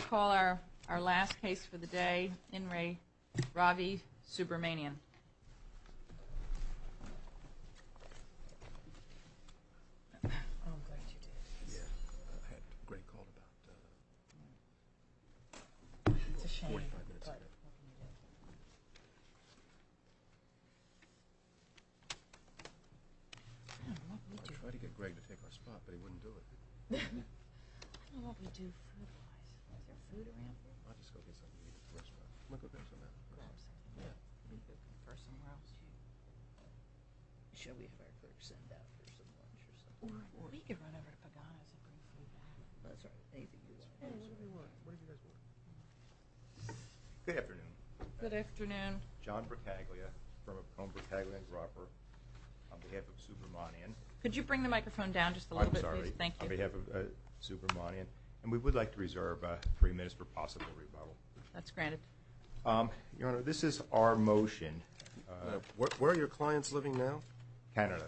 Call our our last case for the day in Ray Ravi Subramanian Could you bring the microphone down just a little bit, please? Thank you. We have a Subramanian and we would like to reserve three minutes for possible rebuttal. That's granted. Your Honor, this is our motion. Where are your clients living now? Canada.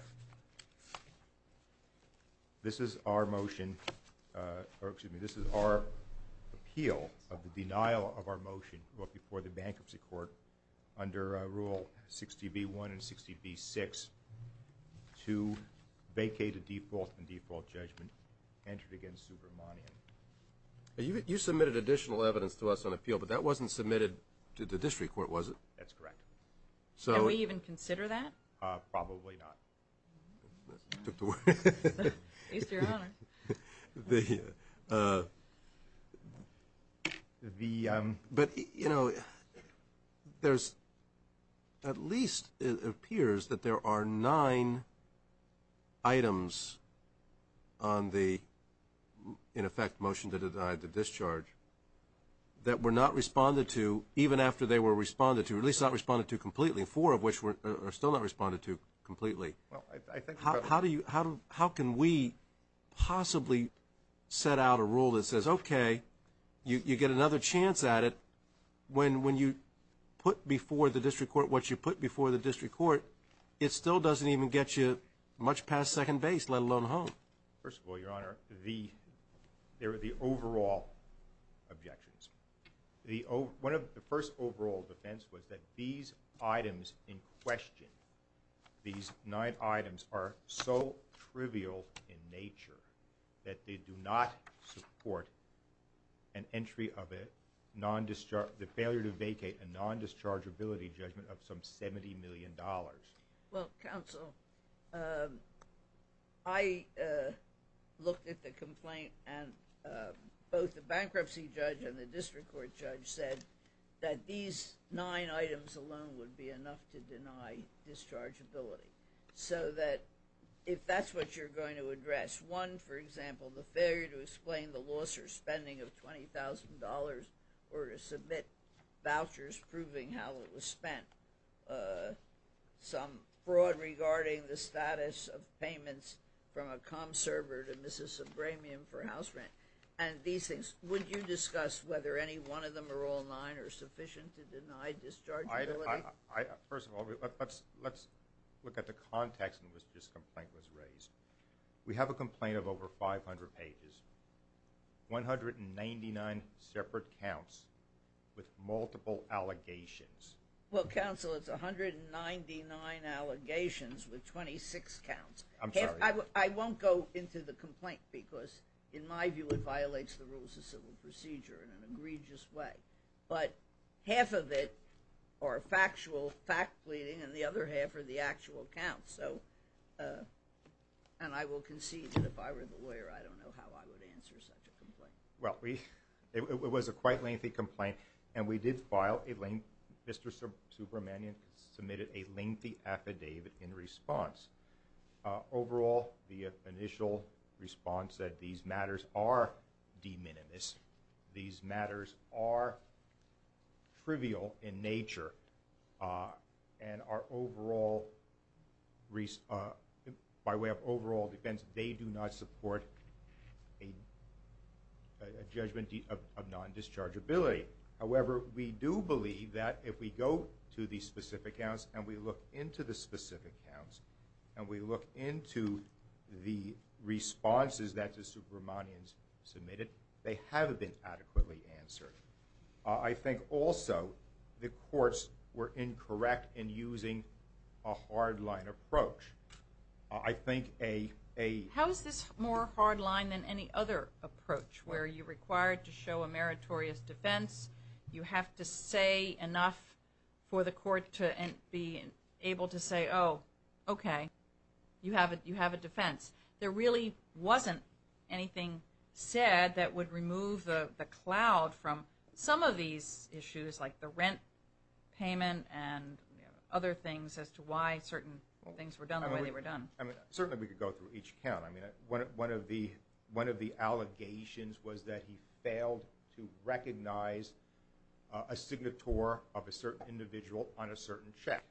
This is our motion, or excuse me, this is our appeal of the denial of our motion before the Bankruptcy Court under Rule 60b1 and 60b6 to vacate a default and default judgment entered against Subramanian. You submitted additional evidence to us on appeal, but that wasn't submitted to the District Court, was it? That's correct. So we even consider that? Probably not. But, you know, there's at least it appears that there are nine items on the, in effect, motion to deny the discharge that were not responded to even after they were responded to, at least not responded to completely, four of which were still not responded to completely. How do you, how can we possibly set out a rule that says, okay, you get another chance at it when when you put before the District Court what you put before the District Court, it still doesn't even get you much past second base, let alone home? First of all, Your Honor, the, there are the overall objections. The, one of the first overall defense was that these items in an entry of a non-discharge, the failure to vacate a non-dischargeability judgment of some $70 million. Well, counsel, I looked at the complaint and both the bankruptcy judge and the District Court judge said that these nine items alone would be enough to deny dischargeability. So that if that's what you're going to charge for spending of $20,000 or to submit vouchers proving how it was spent, some fraud regarding the status of payments from a comm server to Mrs. Abramian for house rent, and these things, would you discuss whether any one of them are all nine are sufficient to deny dischargeability? First of all, let's look at the context in which this complaint was raised. We have a complaint of over 500 pages, 199 separate counts with multiple allegations. Well, counsel, it's 199 allegations with 26 counts. I'm sorry. I won't go into the complaint because in my view it violates the rules of civil procedure in an egregious way, but half of it are factual fact-pleading and the other half are the lawyer. I don't know how I would answer such a complaint. Well, it was a quite lengthy complaint and we did file a link. Mr. Subramanian submitted a lengthy affidavit in response. Overall, the initial response said these matters are de minimis. These matters are trivial in nature and are overall, by way of defense, they do not support a judgment of non-dischargeability. However, we do believe that if we go to these specific counts and we look into the specific counts and we look into the responses that the Subramanians submitted, they have been adequately answered. I think also the courts were incorrect in using a hardline approach. How is this more hardline than any other approach where you're required to show a meritorious defense, you have to say enough for the court to be able to say, oh, okay, you have a defense. There really wasn't anything said that would remove the cloud from some of these issues like the rent payment and other things as to why certain things were done the way they were done. Certainly, we could go through each count. I mean, one of the allegations was that he failed to recognize a signature of a certain individual on a certain check.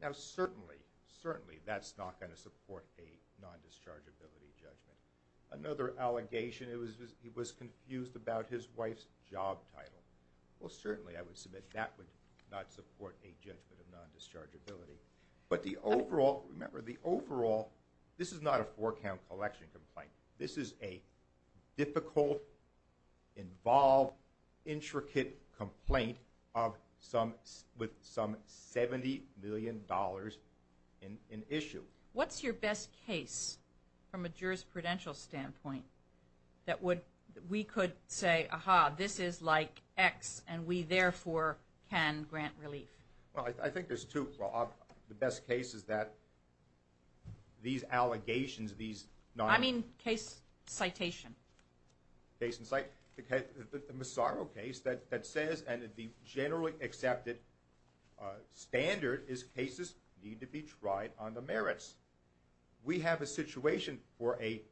Now, certainly, certainly that's not going to support a non-dischargeability judgment. Another allegation, it was he was confused about his wife's job title. Well, certainly, I would submit that would not support a judgment of non-dischargeability. But the overall, remember the overall, this is not a four-count collection complaint. This is a difficult, involved, intricate complaint of some with some $70 million in issue. What's your best case from a jurisprudential standpoint that we could say, aha, this is like X, and we, therefore, can grant relief? Well, I think there's two. The best case is that these allegations, these non- I mean case citation. Case and citation. The Massaro case that says, and the generally accepted standard is cases need to be tried on the merits. We have a situation for a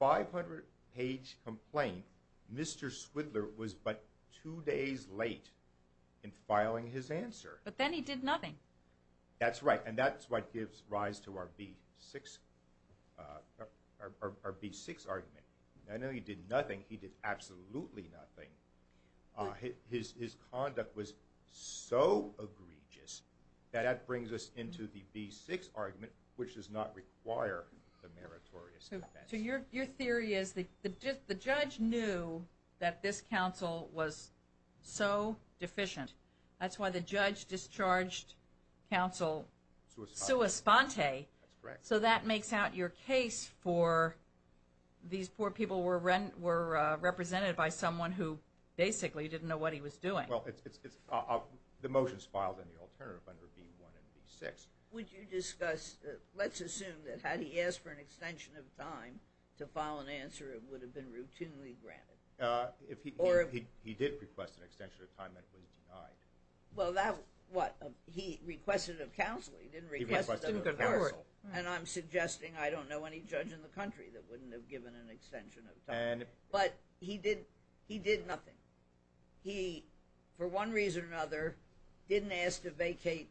500-page complaint. Mr. Swindler was but two days late in filing his answer. But then he did nothing. That's right, and that's what gives rise to our B6 argument. I know he did nothing. He did nothing. His conduct was so egregious that that brings us into the B6 argument, which does not require the meritorious defense. So your theory is that the judge knew that this counsel was so deficient. That's why the judge discharged counsel sua sponte. That's correct. So that makes out your case for these poor people were represented by someone who basically didn't know what he was doing. The motion is filed in the alternative under B1 and B6. Would you discuss, let's assume that had he asked for an extension of time to file an answer, it would have been routinely granted. He did request an extension of time that was denied. Well that, what, he requested of counsel. He didn't request it of counsel. And I'm suggesting I don't know any judge in the country that wouldn't have given an extension of time. But he did, he did for one reason or another, didn't ask to vacate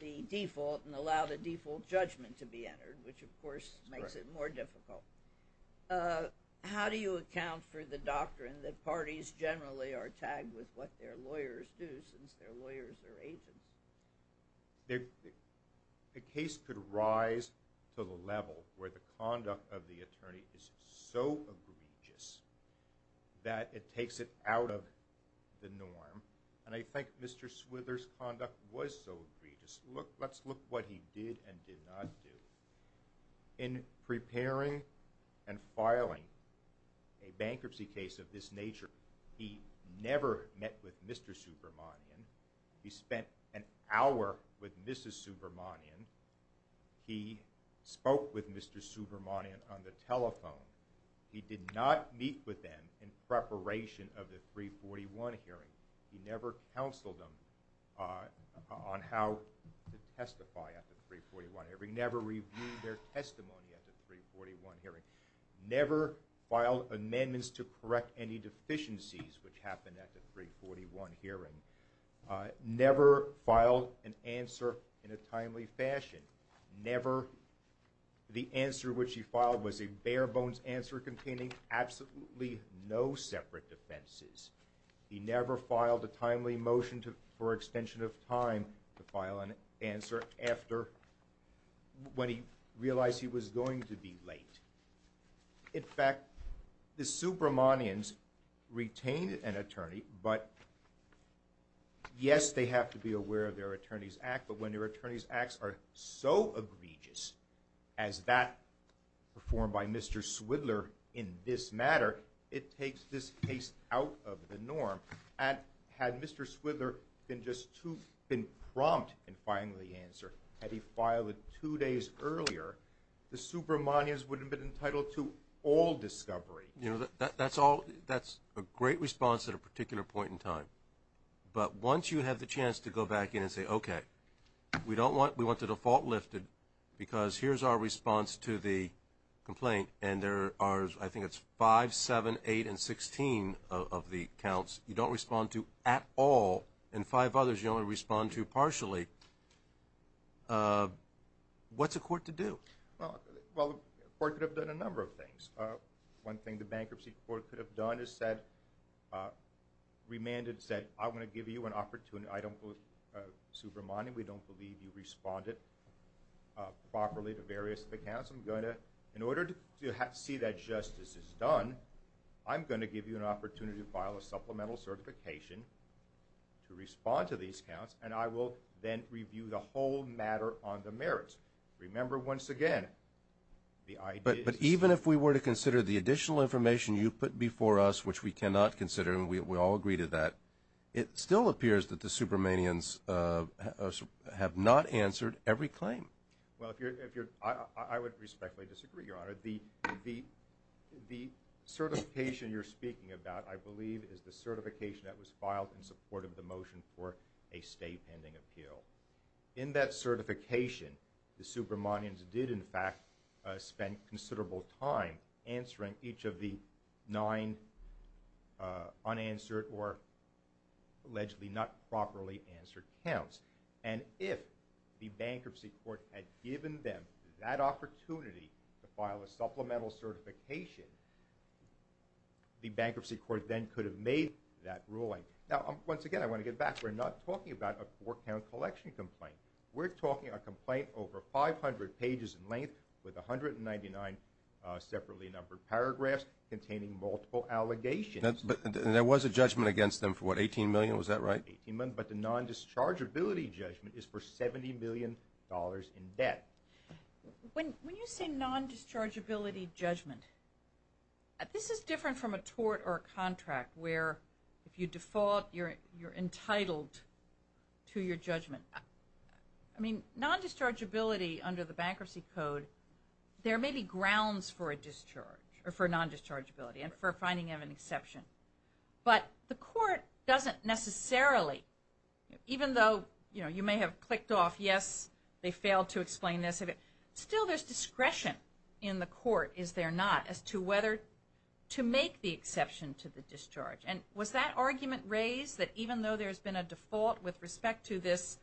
the default and allow the default judgment to be entered, which of course makes it more difficult. How do you account for the doctrine that parties generally are tagged with what their lawyers do since their lawyers are agents? The case could rise to the level where the conduct of the attorney is so egregious that it takes it out of the case. And I think Mr. Swither's conduct was so egregious. Look, let's look what he did and did not do. In preparing and filing a bankruptcy case of this nature, he never met with Mr. Subramanian. He spent an hour with Mrs. Subramanian. He spoke with Mr. Subramanian on the telephone. He did not meet with them in preparation of the 341 hearing. He never counseled them on how to testify at the 341 hearing. He never reviewed their testimony at the 341 hearing. Never filed amendments to correct any deficiencies which happened at the 341 hearing. Never filed an answer in a timely fashion. Never the answer which he filed was a bare-bones answer containing absolutely no separate offenses. He never filed a timely motion to for extension of time to file an answer after when he realized he was going to be late. In fact, the Subramanians retained an attorney, but yes, they have to be aware of their Attorney's Act, but when their Attorney's Acts are so egregious as that performed by Mr. Swidler in this matter, it takes this case out of the norm. Had Mr. Swidler been just too impromptu in filing the answer, had he filed it two days earlier, the Subramanians would have been entitled to all discovery. You know, that's all, that's a great response at a particular point in time, but once you have the chance to go back in and say, okay, we don't want, we want the default lifted because here's our response to the complaint, and there are, I think it's five, seven, eight, and sixteen of the counts you don't respond to at all, and five others you only respond to partially. What's a court to do? Well, the court could have done a number of things. One thing the Bankruptcy Court could have done is said, remanded, said, I want to give you an opportunity. I don't believe, Subramanian, we don't believe you responded properly to various of the counts. I'm going to, in order to see that justice is done, I'm going to give you an opportunity to file a supplemental certification to respond to these counts, and I will then review the whole matter on the merits. Remember, once again, the idea... But even if we were to consider the additional information you put before us, which we cannot consider, and we all agree to that, it still appears that the Subramanians have not answered every claim. Well, I would respectfully disagree, Your Honor. The certification you're speaking about, I believe, is the certification that was filed in support of the motion for a state pending appeal. In that certification, the Subramanians did, in fact, spend considerable time answering each of the nine unanswered or allegedly not properly answered counts. And if the Bankruptcy Court had given them that opportunity to file a supplemental certification, the Bankruptcy Court then could have made that ruling. Now, once again, I want to get back. We're not talking about a four-count collection complaint. We're talking a complaint over 500 pages in length with a hundred and multiple allegations. But there was a judgment against them for what, 18 million? Was that right? 18 million, but the non-dischargeability judgment is for 70 million dollars in debt. When you say non-dischargeability judgment, this is different from a tort or a contract where, if you default, you're entitled to your judgment. I mean, non-dischargeability under the Bankruptcy Code, there may be grounds for a discharge or for non-dischargeability and for finding of an exception. But the court doesn't necessarily, even though, you know, you may have clicked off, yes, they failed to explain this, still there's discretion in the court, is there not, as to whether to make the exception to the discharge. And was that argument raised, that even though there's been a default with respect to this,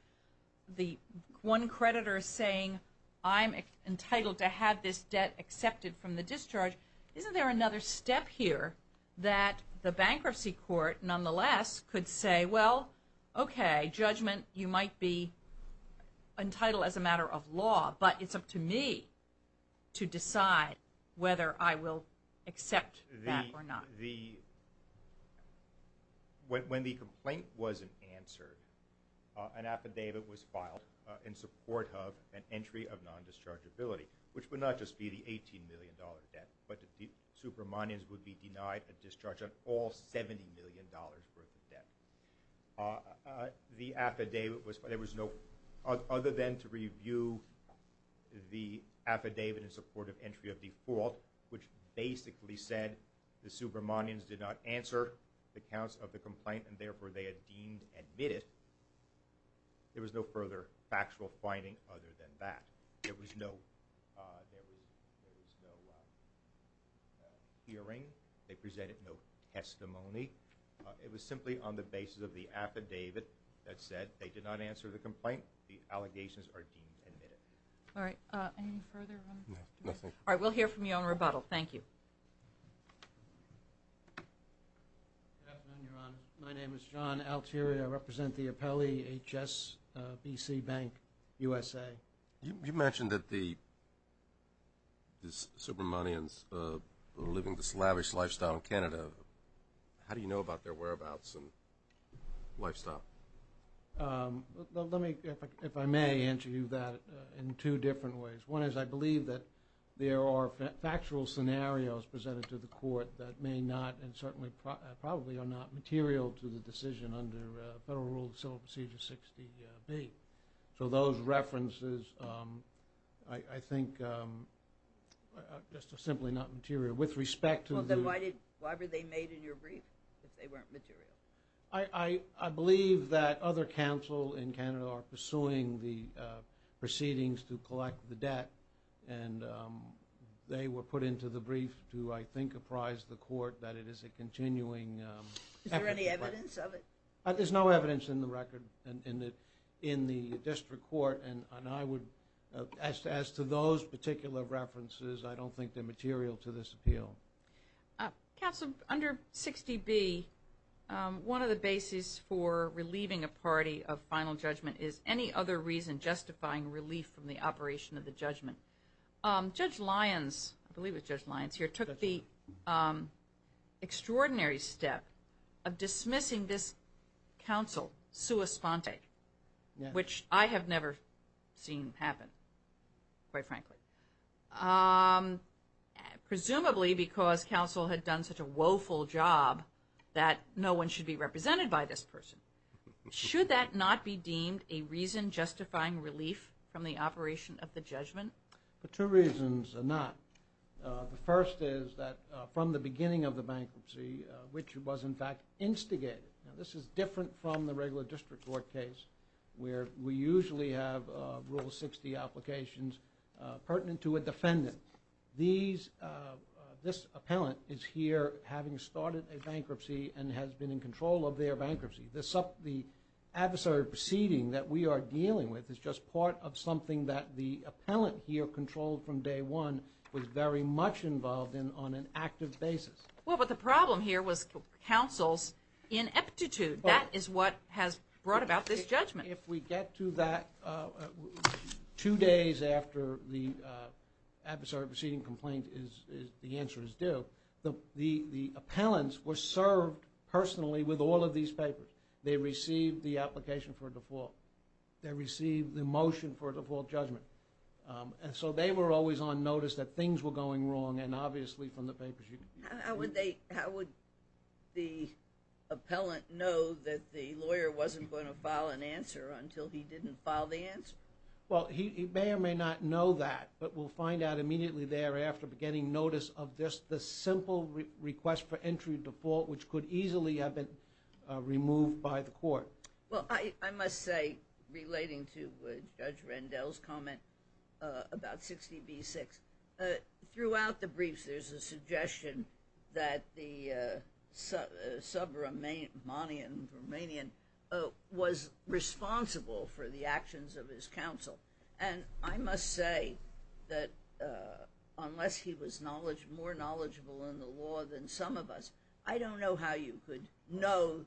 the one creditor saying, I'm entitled to have this debt accepted from the discharge, isn't there another step here that the Bankruptcy Court, nonetheless, could say, well, okay, judgment, you might be entitled as a matter of law, but it's up to me to decide whether I will accept that or not. When the complaint wasn't answered, an affidavit was filed in support of an entry of default, which basically said the Supermanians did not answer the counts of the complaint and therefore they had deemed admitted, there was no further factual finding other than that. There was no hearing, they presented no testimony, it was simply on the basis of the affidavit that said they did not answer the complaint, the allegations are deemed admitted. All right, any further? No, nothing. All right, we'll hear from you on rebuttal, thank you. My name is John Altieri, I represent the Appellee HSBC Bank USA. You mentioned that the Supermanians were living this lavish lifestyle in Canada, how do you know about their whereabouts and lifestyle? Let me, if I may, answer you that in two different ways. One is I believe that there are factual scenarios presented to the court that may not and certainly probably are not material to the decision under Federal Rule of Civil Procedure 60B. So those references, I think, are just simply not material. With respect to the- Well, then why were they made in your brief if they weren't material? I believe that other counsel in Canada are pursuing the proceedings to collect the debt and they were put into the brief to, I think, apprise the court that it is a continuing- Is there any evidence of it? There's no evidence in the record in the district court and I would, as to those particular references, I don't think they're material to this appeal. Counsel, under 60B, one of the bases for relieving a party of final judgment is any other reason justifying relief from the operation of the judgment. Judge Lyons, I believe it was Judge Lyons here, took the extraordinary step of dismissing this counsel, sua sponte, which I have never seen happen, quite frankly. Presumably because counsel had done such a woeful job that no one should be represented by this person. Should that not be deemed a reason justifying relief from the operation of the judgment? For two reasons or not. The first is that from the beginning of the bankruptcy, which was, in fact, instigated, now this is different from the regular district court case where we usually have Rule 60 applications pertinent to a defendant. This appellant is here having started a bankruptcy and has been in control of their bankruptcy. The adversary proceeding that we are dealing with is just part of something that the appellant here controlled from day one was very much involved in on an active basis. Well, but the problem here was counsel's ineptitude. That is what has brought about this judgment. If we get to that two days after the adversary proceeding complaint, the answer is due. The appellants were served personally with all of these papers. They received the application for a default. They received the motion for a default judgment. So they were always on notice that things were going wrong and obviously from the papers. How would the appellant know that the lawyer wasn't going to file an answer until he didn't file the answer? Well, he may or may not know that, but we'll find out immediately thereafter getting notice of just the simple request for entry default, which could easily have been removed by the court. Well, I must say, relating to Judge Rendell's comment about 60 v. 6, throughout the briefs there's a suggestion that the sub-Romanian was responsible for the actions of his counsel. And I must say that unless he was more knowledgeable in the law than some of us, I don't know how you could know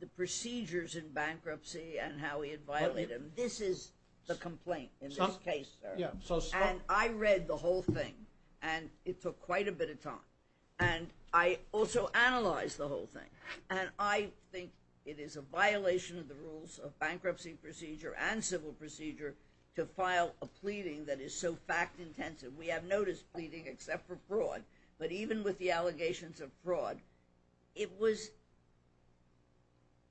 the procedures in bankruptcy and how he had violated them. This is the complaint in this case, sir. And I read the whole thing and it took quite a bit of time. And I also analyzed the whole thing. And I think it is a violation of the rules of bankruptcy procedure and civil procedure to file a pleading that is so fact-intensive. We have notice pleading except for fraud. But even with the allegations of fraud, it was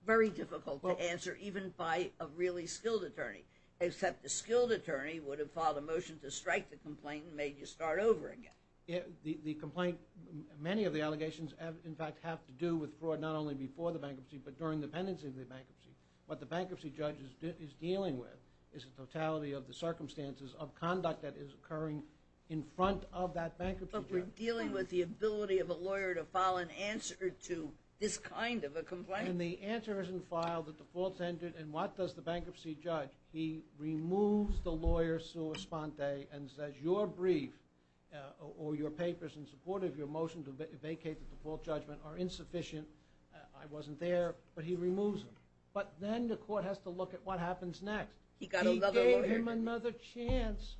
very difficult to answer even by a really skilled attorney, except a skilled attorney would have filed a motion to strike the complaint and made you start over again. The complaint, many of the allegations, in fact, have to do with fraud not only before the bankruptcy but during the pendency of the bankruptcy. What the bankruptcy judge is dealing with is the totality of the circumstances of conduct that is occurring in front of that bankruptcy judge. But we're dealing with the ability of a lawyer to file an answer to this kind of a complaint. When the answer isn't filed, the defaults ended, and what does the bankruptcy judge do? He removes the lawyer's sua sponte and says, your brief or your papers in support of your motion to vacate the default judgment are insufficient. I wasn't there. But he removes them. But then the court has to look at what happens next. He gave him another chance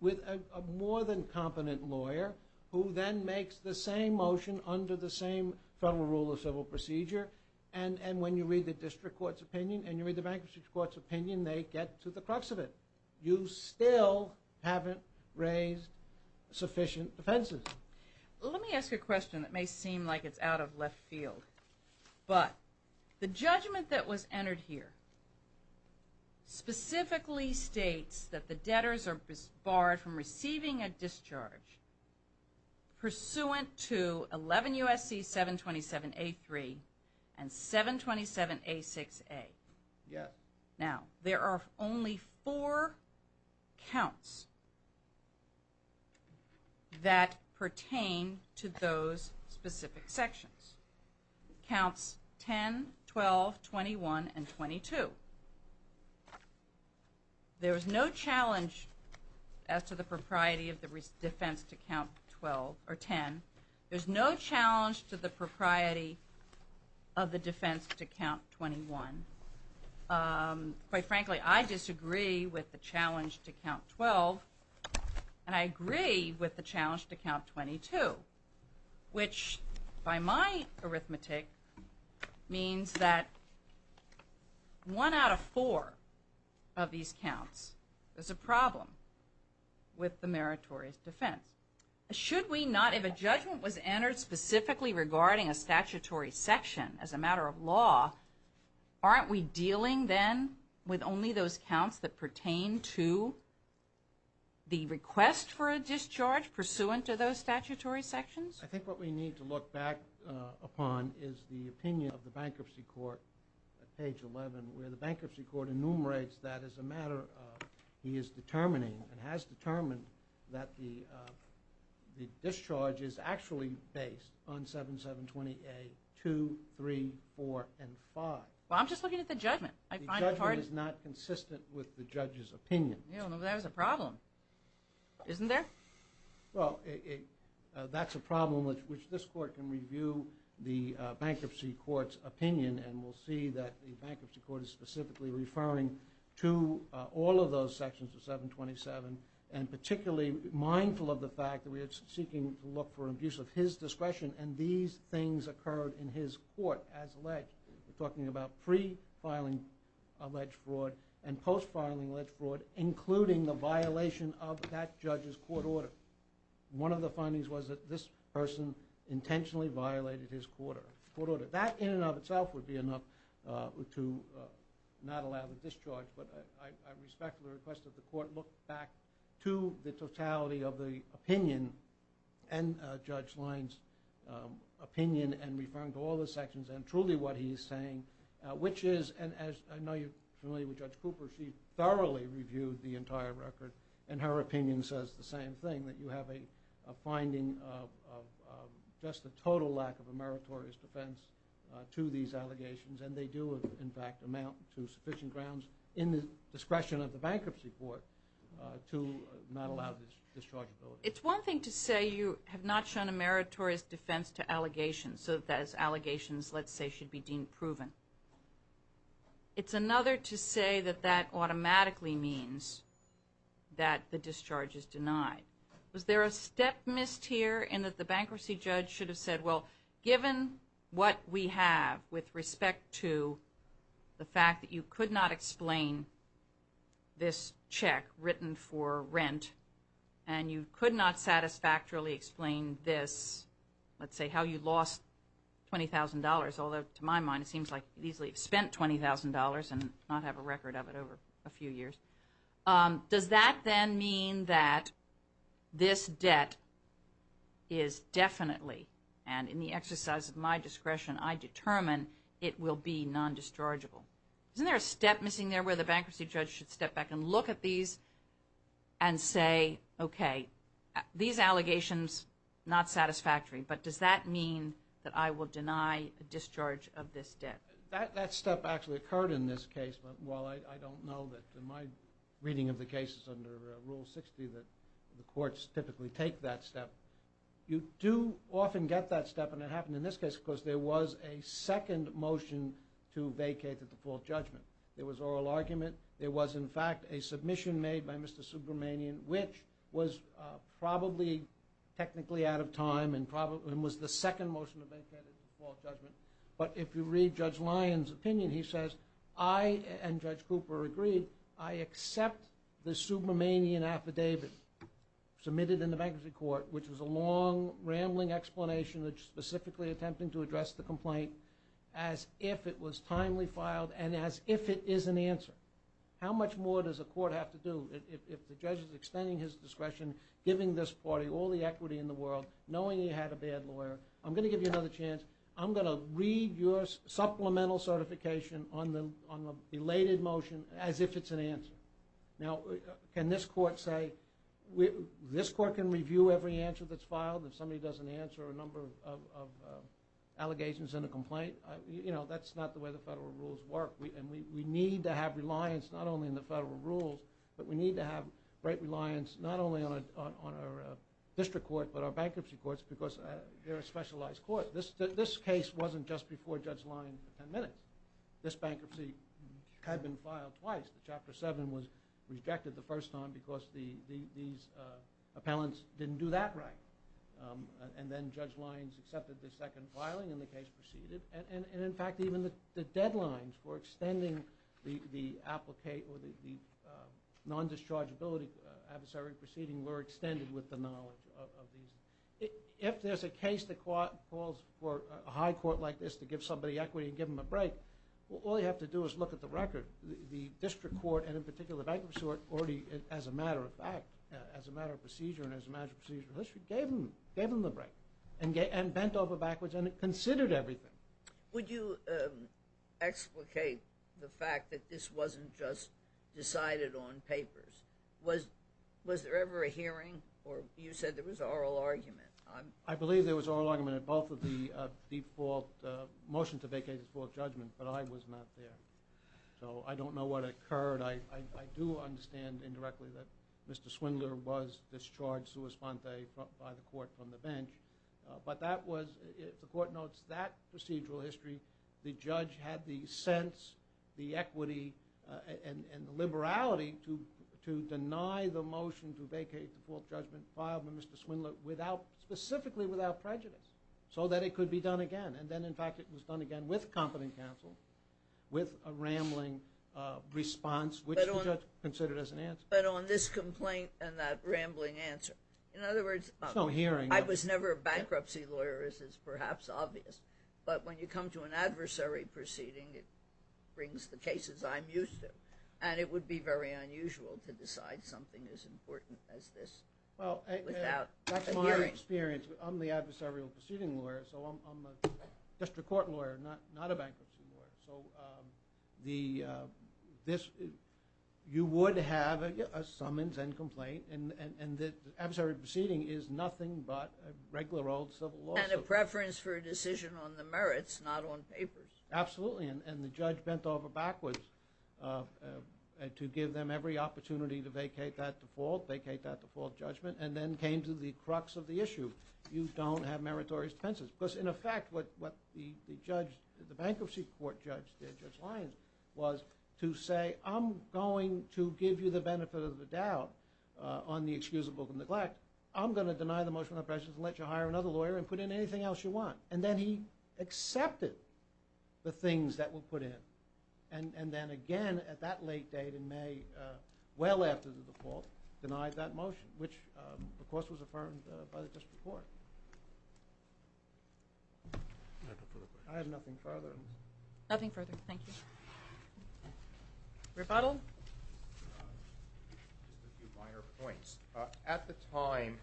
with a more than competent lawyer who then makes the same motion under the same federal rule of civil procedure. And when you read the district court's opinion and you read the bankruptcy court's opinion, they get to the crux of it. You still haven't raised sufficient defenses. Let me ask a question that may seem like it's out of left field. But the judgment that was entered here specifically states that the debtors are barred from receiving a discharge pursuant to 11 U.S.C. 727 A3 and 727 A6A. Now, there are only four counts that pertain to those specific sections. Counts 10, 12, 21, and 22. There is no challenge as to the propriety of the defense to count 12 or 10. There's no challenge to the propriety of the defense to count 21. Quite frankly, I disagree with the challenge to count 12. And I agree with the challenge to count 22, which by my arithmetic means that one out of four of these counts is a problem with the meritorious defense. Should we not, if a judgment was entered specifically regarding a statutory section as a matter of law, aren't we dealing then with only those counts that pertain to the request for a discharge pursuant to those statutory sections? I think what we need to look back upon is the opinion of the bankruptcy court at page 11, where the bankruptcy court enumerates that as a matter of law. He is determining and has determined that the discharge is actually based on 7720 A2, 3, 4, and 5. Well, I'm just looking at the judgment. The judgment is not consistent with the judge's opinion. Yeah, well, that is a problem, isn't there? Well, that's a problem which this court can review the bankruptcy court's opinion and we'll that the bankruptcy court is specifically referring to all of those sections of 727 and particularly mindful of the fact that we are seeking to look for abuse of his discretion and these things occurred in his court as alleged. We're talking about pre-filing alleged fraud and post-filing alleged fraud, including the violation of that judge's court order. One of the findings was that this person intentionally violated his court order. That in and of itself would be enough to not allow the discharge, but I respect the request of the court to look back to the totality of the opinion and Judge Lines' opinion and referring to all the sections and truly what he is saying, which is, and I know you're familiar with Judge Cooper, she thoroughly reviewed the entire record and her opinion says the same thing, that you have a finding of just a total lack of a meritorious defense to these allegations and they do, in fact, amount to sufficient grounds in the discretion of the bankruptcy court to not allow this discharge ability. It's one thing to say you have not shown a meritorious defense to allegations, so that those allegations, let's say, should be deemed proven. It's another to say that that automatically means that the discharge is denied. Was there a step missed here in that the bankruptcy judge should have said, well, given what we have with respect to the fact that you could not explain this check written for rent and you could not satisfactorily explain this, let's say, how you lost $20,000, although to my mind it seems like you easily spent $20,000 and not have a record of it over a few years. Does that then mean that this debt is definitely, and in the exercise of my discretion, I determine it will be non-dischargeable? Isn't there a step missing there where the bankruptcy judge should step back and look at these and say, okay, these allegations, not satisfactory, but does that mean that I will deny a discharge of this debt? That step actually occurred in this case, but while I don't know that in my reading of the cases under Rule 60 that the courts typically take that step, you do often get that step and it happened in this case because there was a second motion to vacate the default judgment. There was oral argument. There was, in fact, a submission made by Mr. Subramanian, which was probably technically out of time and was the second motion to vacate the default judgment. But if you read Judge Lyon's opinion, he says, I, and Judge Cooper agreed, I accept the Subramanian affidavit submitted in the bankruptcy court, which was a long, rambling explanation that's specifically attempting to address the complaint as if it was timely filed and as if it is an answer. How much more does a court have to do if the judge is extending his discretion, giving this party all the equity in the world, knowing he had a bad lawyer? I'm going to give you another chance. I'm going to read your supplemental certification on the belated motion as if it's an answer. Now, can this court say, this court can review every answer that's filed. If somebody doesn't answer a number of allegations in a complaint, you know, that's not the way the federal rules work. And we need to have reliance not only in the federal rules, but we need to have great reliance not only on our district court, but our bankruptcy courts because they're a specialized court. This case wasn't just before Judge Lyons for 10 minutes. This bankruptcy had been filed twice. The Chapter 7 was rejected the first time because these appellants didn't do that right. And then Judge Lyons accepted the second filing and the case proceeded. And in fact, even the deadlines for extending the non-dischargeability adversary proceeding were extended with the knowledge of these. If there's a case that calls for a high court like this to give somebody equity and give them a break, all you have to do is look at the record. The district court and in particular the bankruptcy court already, as a matter of fact, as a matter of procedure and as a matter of procedural history, gave them the break and bent over backwards and considered everything. Would you explicate the fact that this wasn't just decided on papers? Was there ever a hearing or you said there was oral argument? I believe there was oral argument at both of the default, motion to vacate the default judgment, but I was not there. So I don't know what occurred. I do understand indirectly that Mr. Swindler was discharged sua sponte by the court from the bench. But that was, if the court notes that procedural history, the judge had the sense, the equity, and the liberality to deny the motion to vacate the default judgment filed by Mr. Swindler without, specifically without prejudice, so that it could be done again. And then, in fact, it was done again with competent counsel, with a rambling response, which the judge considered as an answer. But on this complaint and that rambling answer, in other words, I was never a bankruptcy lawyer, as is perhaps obvious. But when you come to an adversary proceeding, it brings the cases I'm used to. And it would be very unusual to decide something as important as this without a hearing. Well, that's my experience. I'm the adversarial proceeding lawyer. So I'm a district court lawyer, not a bankruptcy lawyer. So you would have a summons and complaint. And the adversary proceeding is nothing but a regular old civil law suit. And a preference for a decision on the merits, not on papers. Absolutely. And the judge bent over backwards to give them every opportunity to vacate that default, vacate that default judgment, and then came to the crux of the issue. You don't have meritorious defenses. Because, in effect, what the judge, the bankruptcy court judge, Judge Lyons, was to say, I'm going to give you the benefit of the doubt on the excusable neglect. I'm going to deny the motion of impressions and let you hire another lawyer and put in anything else you want. And then he accepted the things that were put in. And then again, at that late date in May, well after the default, denied that motion, which, of course, was affirmed by the district court. I have nothing further. Nothing further. Thank you. Rebuttal? Just a few minor points. At the time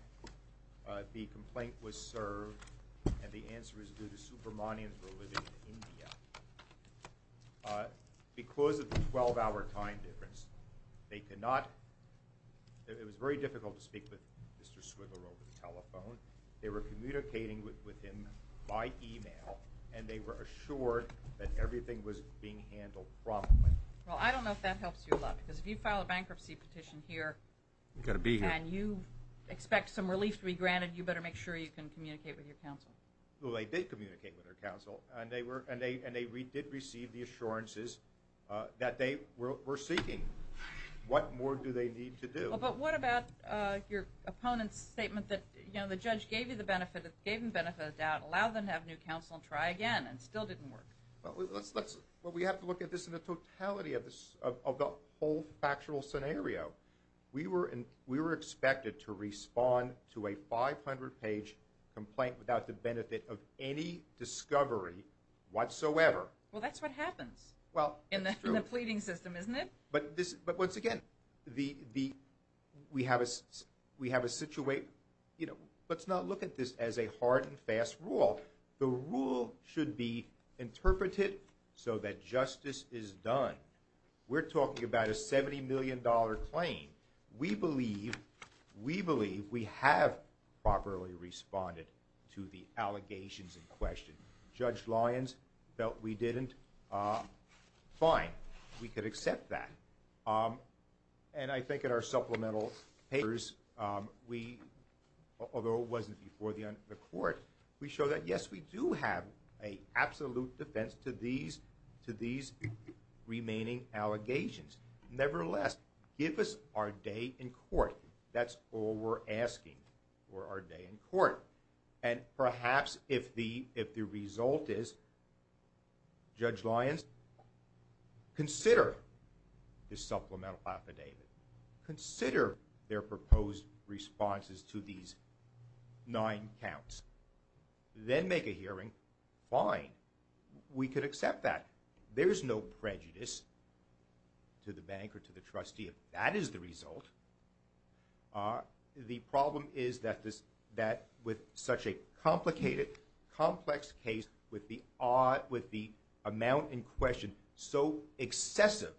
the complaint was served, and the answer is due to the Supermanians who were living in India, because of the 12-hour time difference, they could not, it was very difficult to speak with Mr. Swigler over the telephone. They were communicating with him by email. And they were assured that everything was being handled promptly. Well, I don't know if that helps you a lot. Because if you file a bankruptcy petition here, you've got to be here. And you expect some relief to be granted. You better make sure you can communicate with your counsel. Well, they did communicate with their counsel. And they did receive the assurances that they were seeking. What more do they need to do? Well, but what about your opponent's statement that, you know, the judge gave you the benefit, gave him the benefit of the doubt, allow them to have new counsel and try again, and still didn't work? Well, we have to look at this in the totality of the whole factual scenario. We were expected to respond to a 500-page complaint without the benefit of any discovery whatsoever. Well, that's what happens in the pleading system, isn't it? But once again, we have a situation, you know, let's not look at this as a hard and fast rule. The rule should be interpreted so that justice is done. We're talking about a $70 million claim. We believe we have properly responded to the allegations in question. Judge Lyons felt we didn't. Fine, we could accept that. And I think in our supplemental papers, although it wasn't before the court, we show that, yes, we do have an absolute defense to these remaining allegations. Nevertheless, give us our day in court. That's all we're asking for our day in court. And perhaps if the result is, Judge Lyons, consider this supplemental affidavit. Consider their proposed responses to these nine counts. Then make a hearing. Fine, we could accept that. There's no prejudice to the bank or to the trustee if that is the result. The problem is that with such a complicated, complex case, with the amount in question so excessive,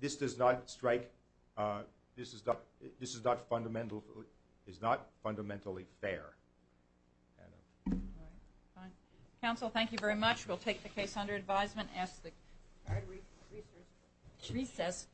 this is not fundamentally fair. All right, fine. Counsel, thank you very much. We'll take the case under advisement. Ask the recess court.